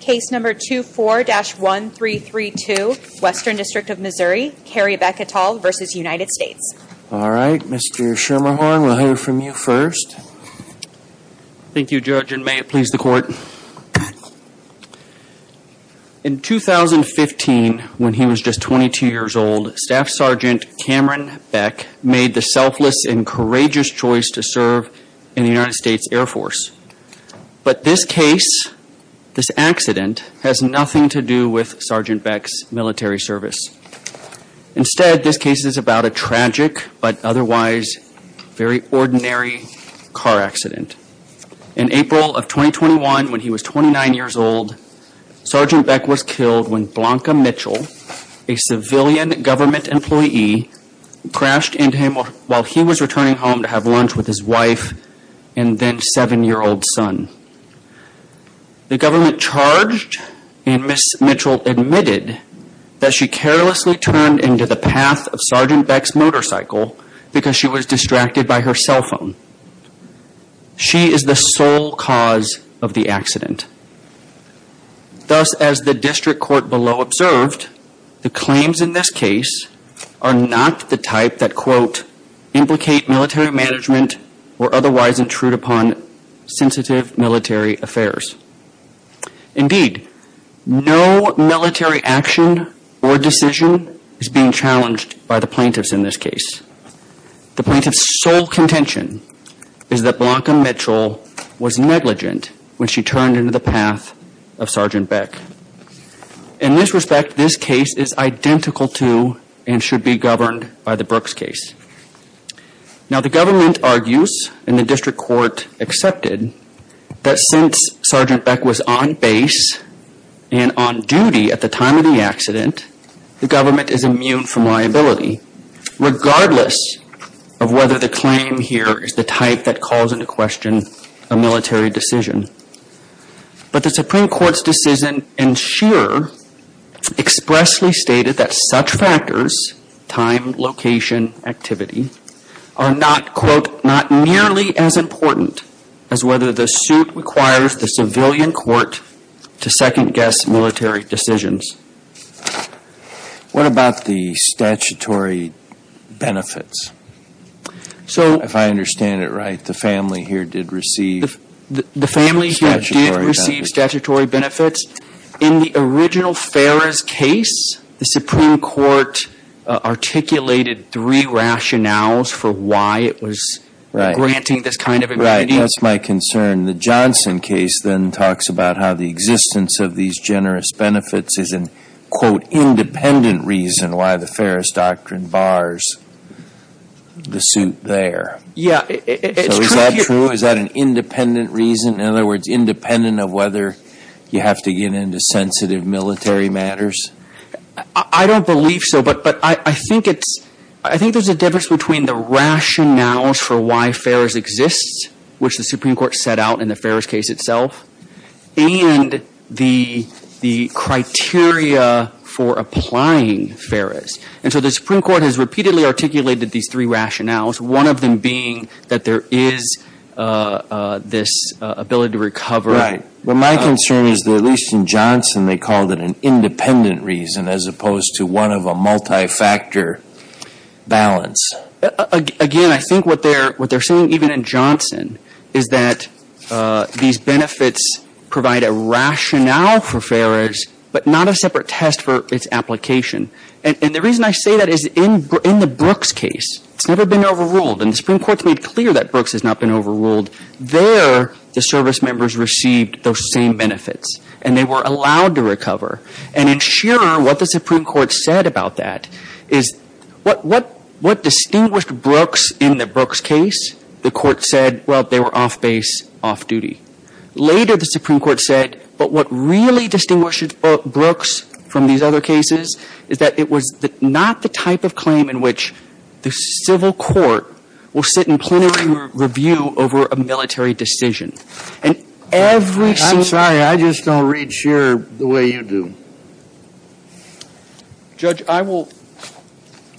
Case number 24-1332, Western District of Missouri, Kari Beck et al. v. United States. All right, Mr. Schermerhorn, we'll hear from you first. Thank you, Judge, and may it please the Court. In 2015, when he was just 22 years old, Staff Sergeant Cameron Beck made the selfless and courageous choice to serve in the United States Air Force. But this case, this accident, has nothing to do with Sergeant Beck's military service. Instead, this case is about a tragic but otherwise very ordinary car accident. In April of 2021, when he was 29 years old, Sergeant Beck was killed when Blanca Mitchell, a civilian government employee, crashed into him while he was returning home to have lunch with his wife and then seven-year-old son. The government charged, and Ms. Mitchell admitted that she carelessly turned into the path of Sergeant Beck's motorcycle because she was distracted by her cell phone. She is the sole cause of the accident. Thus, as the District Court below observed, the claims in this case are not the type that, quote, implicate military management or otherwise intrude upon sensitive military affairs. Indeed, no military action or decision is being challenged by the plaintiffs in this case. The plaintiff's sole contention is that Blanca Mitchell was negligent when she turned into the path of Sergeant Beck. In this respect, this case is identical to and should be governed by the Brooks case. Now, the government argues, and the District Court accepted, that since Sergeant Beck was on base and on duty at the time of the accident, the government is immune from liability, regardless of whether the claim here is the type that calls into question a military decision. But the Supreme Court's decision in Shearer expressly stated that such factors, time, location, activity, are not, quote, not nearly as important as whether the suit requires the civilian court to second-guess military decisions. What about the statutory benefits? If I understand it right, the family here did receive statutory benefits. In the original Ferris case, the Supreme Court articulated three rationales for why it was granting this kind of immunity. Right. That's my concern. The Johnson case then talks about how the existence of these generous benefits is an, quote, independent reason why the Ferris doctrine bars the suit there. Yeah, it's true. So is that true? In other words, independent of whether you have to get into sensitive military matters? I don't believe so, but I think there's a difference between the rationales for why Ferris exists, which the Supreme Court set out in the Ferris case itself, and the criteria for applying Ferris. And so the Supreme Court has repeatedly articulated these three rationales, one of them being that there is this ability to recover. Well, my concern is that, at least in Johnson, they called it an independent reason, as opposed to one of a multi-factor balance. Again, I think what they're saying, even in Johnson, is that these benefits provide a rationale for Ferris, but not a separate test for its application. And the reason I say that is in the Brooks case, it's never been overruled. And the Supreme Court's made clear that Brooks has not been overruled. There, the service members received those same benefits, and they were allowed to recover. And in Shearer, what the Supreme Court said about that is what distinguished Brooks in the Brooks case? The court said, well, they were off base, off duty. Later, the Supreme Court said, but what really distinguished Brooks from these other cases is that it was not the type of claim in which the civil court will sit in plenary review over a military decision. And every single one of those cases is a military decision. I'm sorry. I just don't read Shearer the way you do. Judge, I will.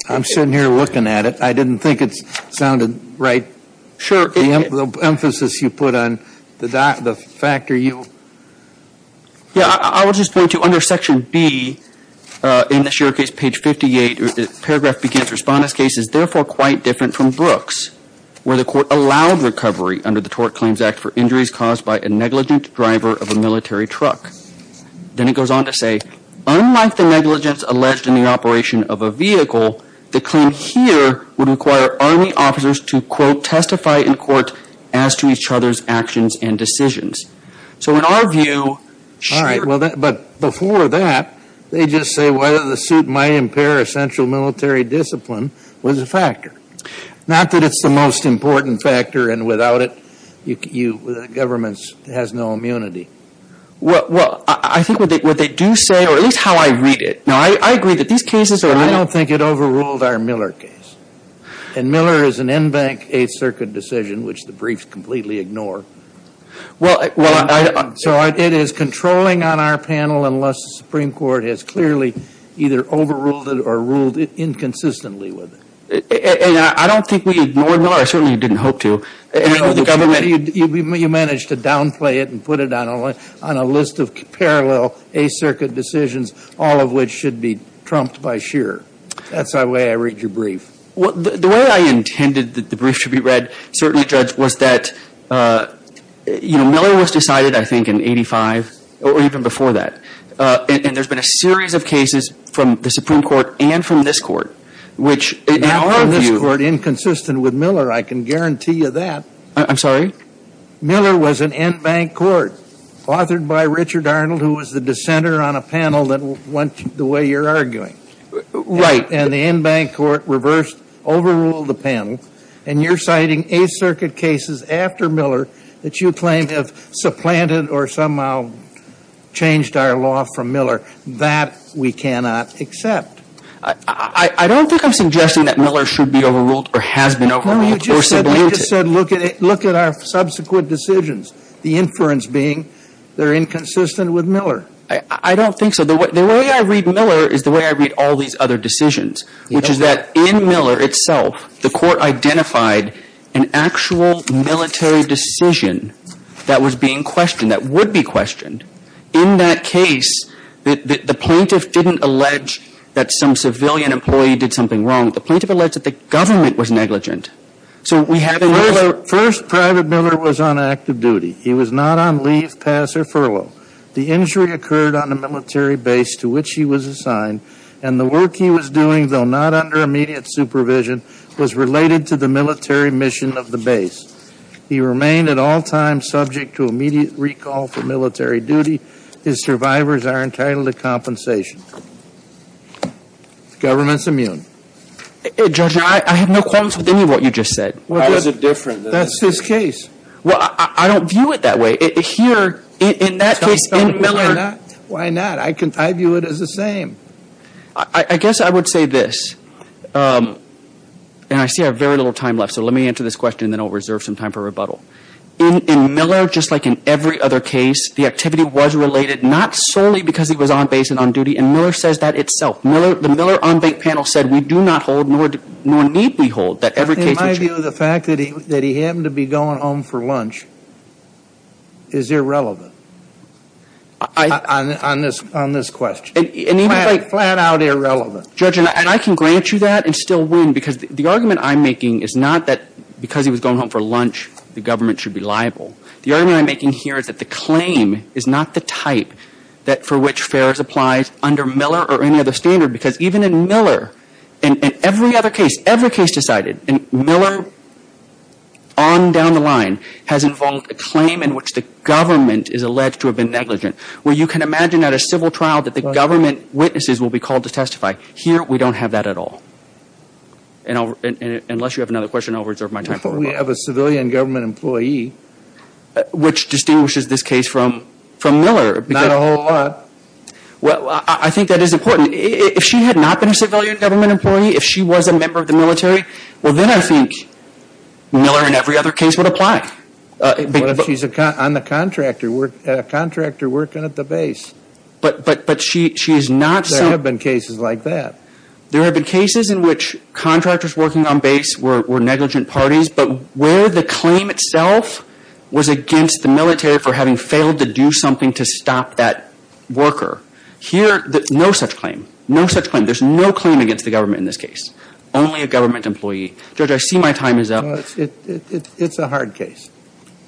I'm sitting here looking at it. I didn't think it sounded right. Sure. The emphasis you put on the factor you. Yeah, I was just going to, under section B, in the Shearer case, page 58, paragraph begins, Respondents' case is therefore quite different from Brooks, where the court allowed recovery under the Tort Claims Act for injuries caused by a negligent driver of a military truck. Then it goes on to say, unlike the negligence alleged in the operation of a vehicle, the claim here would require Army officers to, quote, testify in court as to each other's actions and decisions. So in our view. All right. But before that, they just say whether the suit might impair essential military discipline was a factor. Not that it's the most important factor, and without it, the government has no immunity. Well, I think what they do say, or at least how I read it. Now, I agree that these cases are. Well, I don't think it overruled our Miller case. And Miller is an in-bank Eighth Circuit decision, which the briefs completely ignore. Well, I. So it is controlling on our panel unless the Supreme Court has clearly either overruled it or ruled it inconsistently with it. And I don't think we ignored Miller. I certainly didn't hope to. You managed to downplay it and put it on a list of parallel Eighth Circuit decisions, all of which should be trumped by Scheer. That's the way I read your brief. Well, the way I intended that the brief should be read, certainly, Judge, was that, you know, Miller was decided, I think, in 85, or even before that. And there's been a series of cases from the Supreme Court and from this court, which. In our view. In this court, inconsistent with Miller, I can guarantee you that. I'm sorry? Miller was an in-bank court authored by Richard Arnold, who was the dissenter on a panel that went the way you're arguing. And the in-bank court reversed, overruled the panel. And you're citing Eighth Circuit cases after Miller that you claim have supplanted or somehow changed our law from Miller. That we cannot accept. I don't think I'm suggesting that Miller should be overruled or has been overruled. No, you just said. We just said look at our subsequent decisions. The inference being they're inconsistent with Miller. I don't think so. The way I read Miller is the way I read all these other decisions, which is that in Miller itself, the court identified an actual military decision that was being questioned, that would be questioned. In that case, the plaintiff didn't allege that some civilian employee did something wrong. The plaintiff alleged that the government was negligent. First, Private Miller was on active duty. He was not on leave, pass, or furlough. The injury occurred on a military base to which he was assigned, and the work he was doing, though not under immediate supervision, was related to the military mission of the base. He remained at all times subject to immediate recall for military duty. His survivors are entitled to compensation. The government's immune. Judge, I have no qualms with any of what you just said. How is it different? That's his case. Well, I don't view it that way. Here, in that case, in Miller. Why not? Why not? I view it as the same. I guess I would say this, and I see I have very little time left, so let me answer this question and then I'll reserve some time for rebuttal. In Miller, just like in every other case, the activity was related, not solely because he was on base and on duty, and Miller says that itself. The Miller on-bank panel said we do not hold, nor need we hold, that every case was... In my view, the fact that he happened to be going home for lunch is irrelevant on this question. Flat out irrelevant. Judge, and I can grant you that and still win, because the argument I'm making is not that because he was going home for lunch, the government should be liable. The argument I'm making here is that the claim is not the type for which Ferris applies under Miller or any other standard, because even in Miller, in every other case, every case decided in Miller, on down the line, has involved a claim in which the government is alleged to have been negligent, where you can imagine at a civil trial that the government witnesses will be called to testify. Here, we don't have that at all. Unless you have another question, I'll reserve my time for rebuttal. We have a civilian government employee. Which distinguishes this case from Miller. Not a whole lot. Well, I think that is important. If she had not been a civilian government employee, if she was a member of the military, well, then I think Miller in every other case would apply. What if she's a contractor working at the base? But she is not... There have been cases like that. There have been cases in which contractors working on base were negligent parties, but where the claim itself was against the military for having failed to do something to stop that worker. Here, no such claim. No such claim. There's no claim against the government in this case. Only a government employee. Judge, I see my time is up. It's a hard case.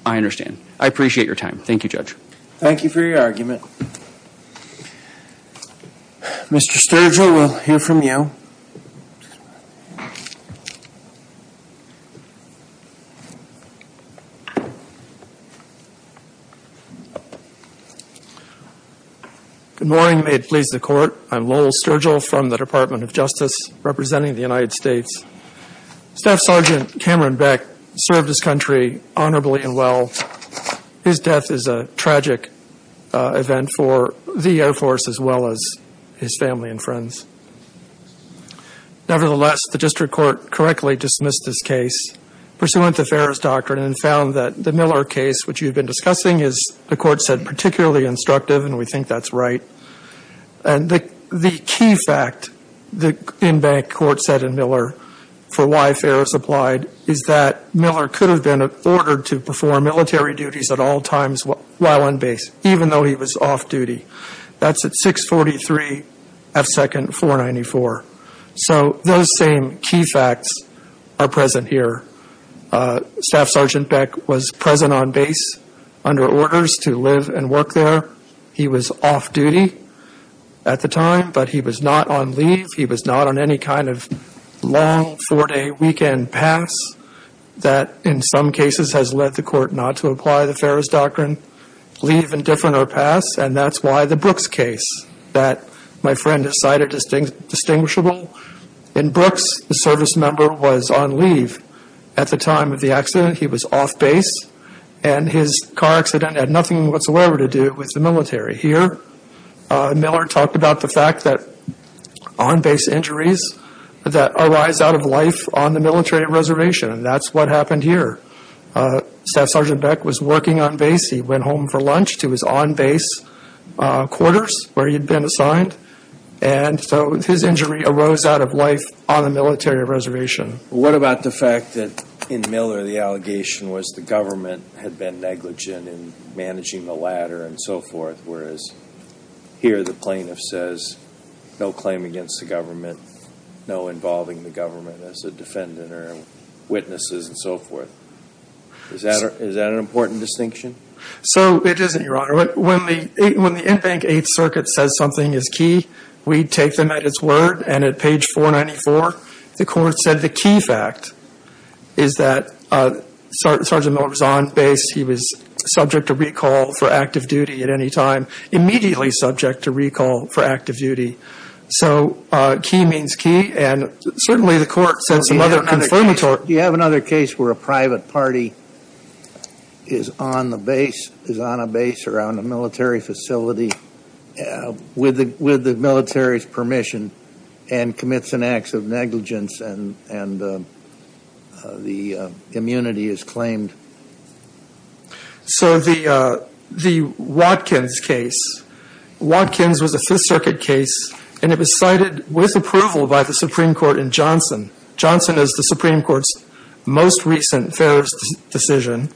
I understand. I appreciate your time. Thank you, Judge. Thank you for your argument. Mr. Sturgill, we'll hear from you. Good morning. May it please the Court. I'm Lowell Sturgill from the Department of Justice, representing the United States. Staff Sergeant Cameron Beck served this country honorably and well. His death is a tragic event for the Air Force as well as his family and friends. Nevertheless, the district court correctly dismissed this case, pursuant to Ferris' doctrine, and found that the Miller case, which you've been discussing, is, the Court said, particularly instructive, and we think that's right. And the key fact, the in-bank court said in Miller, for why Ferris applied, is that Miller could have been ordered to perform military duties at all times while on base, even though he was off duty. That's at 643 F. 2nd, 494. So those same key facts are present here. Staff Sergeant Beck was present on base under orders to live and work there. He was off duty at the time, but he was not on leave. He was not on any kind of long four-day weekend pass that, in some cases, has led the Court not to apply the Ferris doctrine, leave indifferent or pass, and that's why the Brooks case that my friend has cited is distinguishable. In Brooks, the service member was on leave. At the time of the accident, he was off base, and his car accident had nothing whatsoever to do with the military. Here, Miller talked about the fact that on-base injuries that arise out of life on the military reservation, and that's what happened here. Staff Sergeant Beck was working on base. He went home for lunch to his on-base quarters where he had been assigned, and so his injury arose out of life on the military reservation. What about the fact that, in Miller, the allegation was the government had been negligent in managing the ladder and so forth, whereas here the plaintiff says no claim against the government, no involving the government as a defendant or witnesses and so forth. Is that an important distinction? So it isn't, Your Honor. When the Inbank Eighth Circuit says something is key, we take them at its word, and at page 494, the court said the key fact is that Sergeant Miller was on base. He was subject to recall for active duty at any time, immediately subject to recall for active duty. So key means key, and certainly the court said some other confirmatory. Do you have another case where a private party is on the base, around a military facility, with the military's permission, and commits an act of negligence and the immunity is claimed? So the Watkins case, Watkins was a Fifth Circuit case, and it was cited with approval by the Supreme Court in Johnson. Johnson is the Supreme Court's most recent fair decision,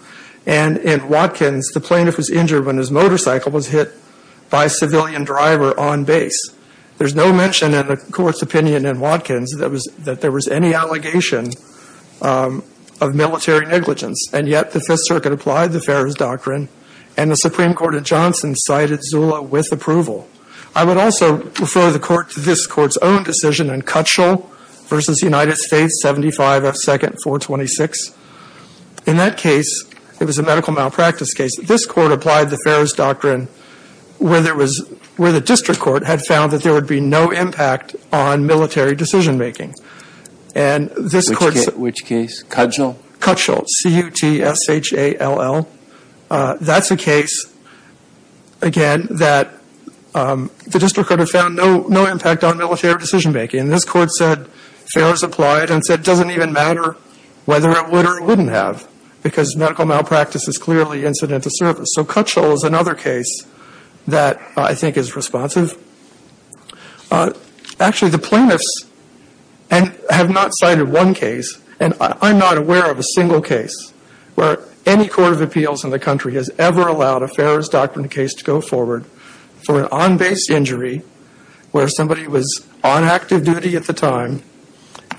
and in Watkins, the plaintiff was injured when his motorcycle was hit by a civilian driver on base. There's no mention in the court's opinion in Watkins that there was any allegation of military negligence, and yet the Fifth Circuit applied the fairest doctrine, and the Supreme Court in Johnson cited Zula with approval. I would also refer the court to this court's own decision in Cutshall v. United States, 75 F. 2nd, 426. In that case, it was a medical malpractice case, this court applied the fairest doctrine, where the district court had found that there would be no impact on military decision-making. Which case? Cutshall? Cutshall, C-U-T-S-H-A-L-L. That's a case, again, that the district could have found no impact on military decision-making, and this court said, fair is applied, and said it doesn't even matter whether it would or wouldn't have, because medical malpractice is clearly incidental service. So Cutshall is another case that I think is responsive. Actually, the plaintiffs have not cited one case, and I'm not aware of a single case, where any court of appeals in the country has ever allowed a fairest doctrine case to go forward for an on-base injury, where somebody was on active duty at the time,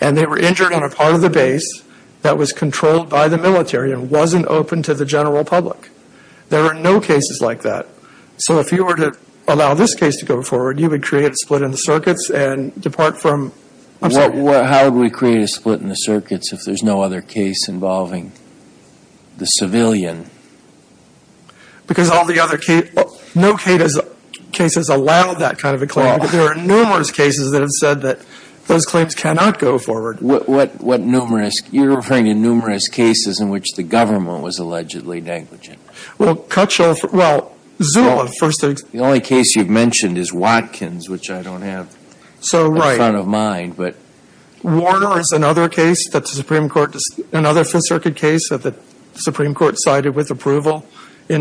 and they were injured on a part of the base that was controlled by the military and wasn't open to the general public. There are no cases like that. So if you were to allow this case to go forward, you would create a split in the circuits and depart from... How would we create a split in the circuits if there's no other case involving the civilian? Because all the other cases, no cases allow that kind of a claim, but there are numerous cases that have said that those claims cannot go forward. What numerous? You're referring to numerous cases in which the government was allegedly negligent. Well, Cutshall, well, Zula, first... The only case you've mentioned is Watkins, which I don't have in front of mind, but... in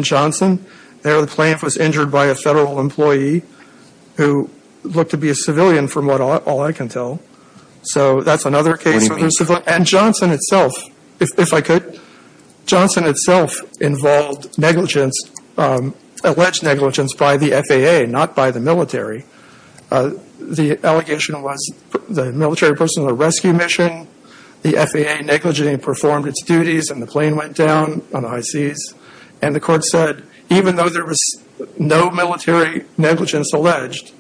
Johnson. There, the plane was injured by a federal employee who looked to be a civilian from what all I can tell. So that's another case... And Johnson itself, if I could, Johnson itself involved negligence, alleged negligence by the FAA, not by the military. The allegation was the military personnel rescue mission, the FAA negligently performed its duties, and the plane went down on the high seas. And the court said even though there was no military negligence alleged,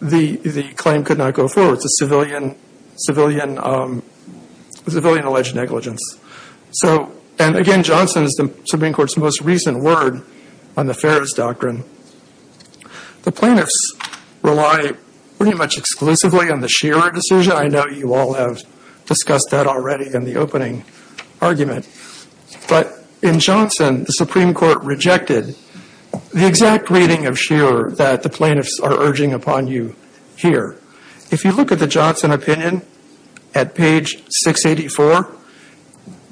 the claim could not go forward. It's a civilian-alleged negligence. So, and again, Johnson is the Supreme Court's most recent word on the FARA's doctrine. The plaintiffs rely pretty much exclusively on the Shearer decision. I know you all have discussed that already in the opening argument. But in Johnson, the Supreme Court rejected the exact reading of Shearer that the plaintiffs are urging upon you here. If you look at the Johnson opinion at page 684,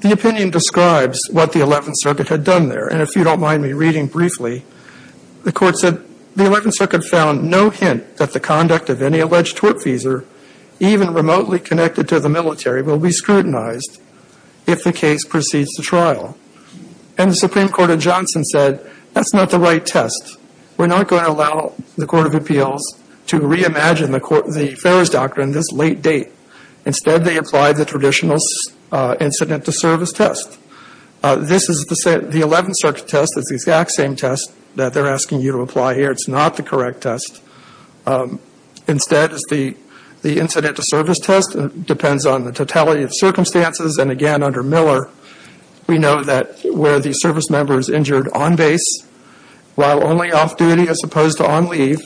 the opinion describes what the Eleventh Circuit had done there. And if you don't mind me reading briefly, the court said, the Eleventh Circuit found no hint that the conduct of any alleged tortfeasor, even remotely connected to the military, will be scrutinized if the case proceeds to trial. And the Supreme Court of Johnson said that's not the right test. We're not going to allow the Court of Appeals to reimagine the FARA's doctrine this late date. Instead, they applied the traditional incident to service test. This is the Eleventh Circuit test. It's the exact same test that they're asking you to apply here. It's not the correct test. Instead, it's the incident to service test. It depends on the totality of circumstances. And again, under Miller, we know that where the service member is injured on base, while only off duty as opposed to on leave,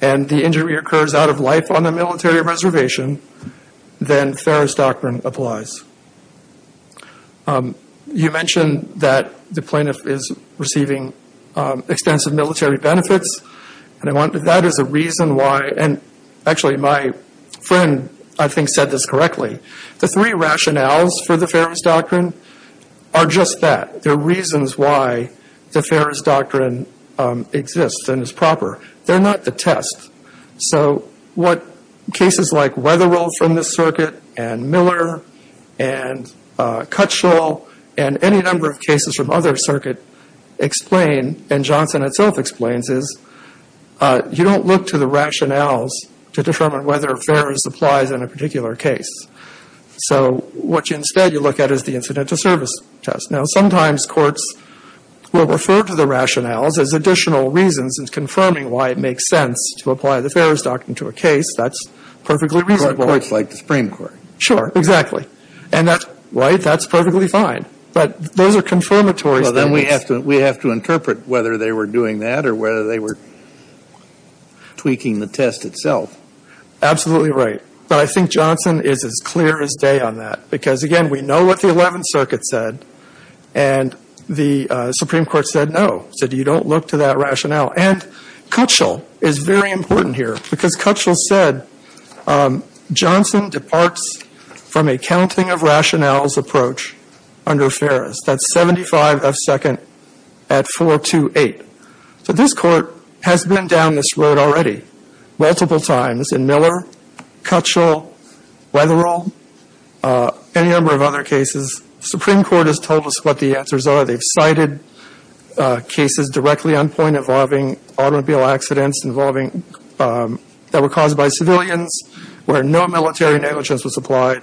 and the injury occurs out of life on a military reservation, then FARA's doctrine applies. You mentioned that the plaintiff is receiving extensive military benefits. That is a reason why, and actually my friend, I think, said this correctly. The three rationales for the FARA's doctrine are just that. They're reasons why the FARA's doctrine exists and is proper. They're not the test. So what cases like Weatherill from this circuit, and Miller, and Cutshall, and any number of cases from other circuits explain, and Johnson itself explains, is you don't look to the rationales to determine whether FARA's applies in a particular case. So what instead you look at is the incident to service test. Now, sometimes courts will refer to the rationales as additional reasons in confirming why it makes sense to apply the FARA's doctrine to a case. That's perfectly reasonable. But courts like the Supreme Court. Sure, exactly. And that's, right, that's perfectly fine. But those are confirmatories. Well, then we have to interpret whether they were doing that or whether they were tweaking the test itself. Absolutely right. But I think Johnson is as clear as day on that. Because, again, we know what the Eleventh Circuit said, and the Supreme Court said no. It said you don't look to that rationale. And Cutshall is very important here. Because Cutshall said Johnson departs from a counting of rationales approach under FARA's. That's 75 F second at 428. So this court has been down this road already multiple times in Miller, Cutshall, Weatherill, any number of other cases. The Supreme Court has told us what the answers are. They've cited cases directly on point involving automobile accidents involving that were caused by civilians where no military negligence was applied.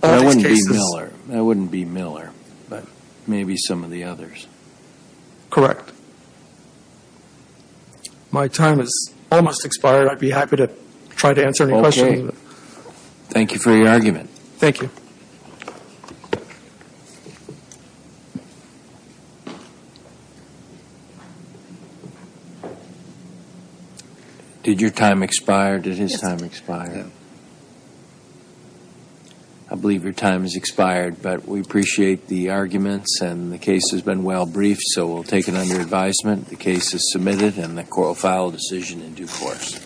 That wouldn't be Miller. That wouldn't be Miller. But maybe some of the others. Correct. My time has almost expired. I'd be happy to try to answer any questions. Okay. Thank you for your argument. Thank you. Did your time expire? Did his time expire? Yes. I believe your time has expired. But we appreciate the arguments, and the case has been well briefed, so we'll take it under advisement. The case is submitted, and the court will file a decision in due course.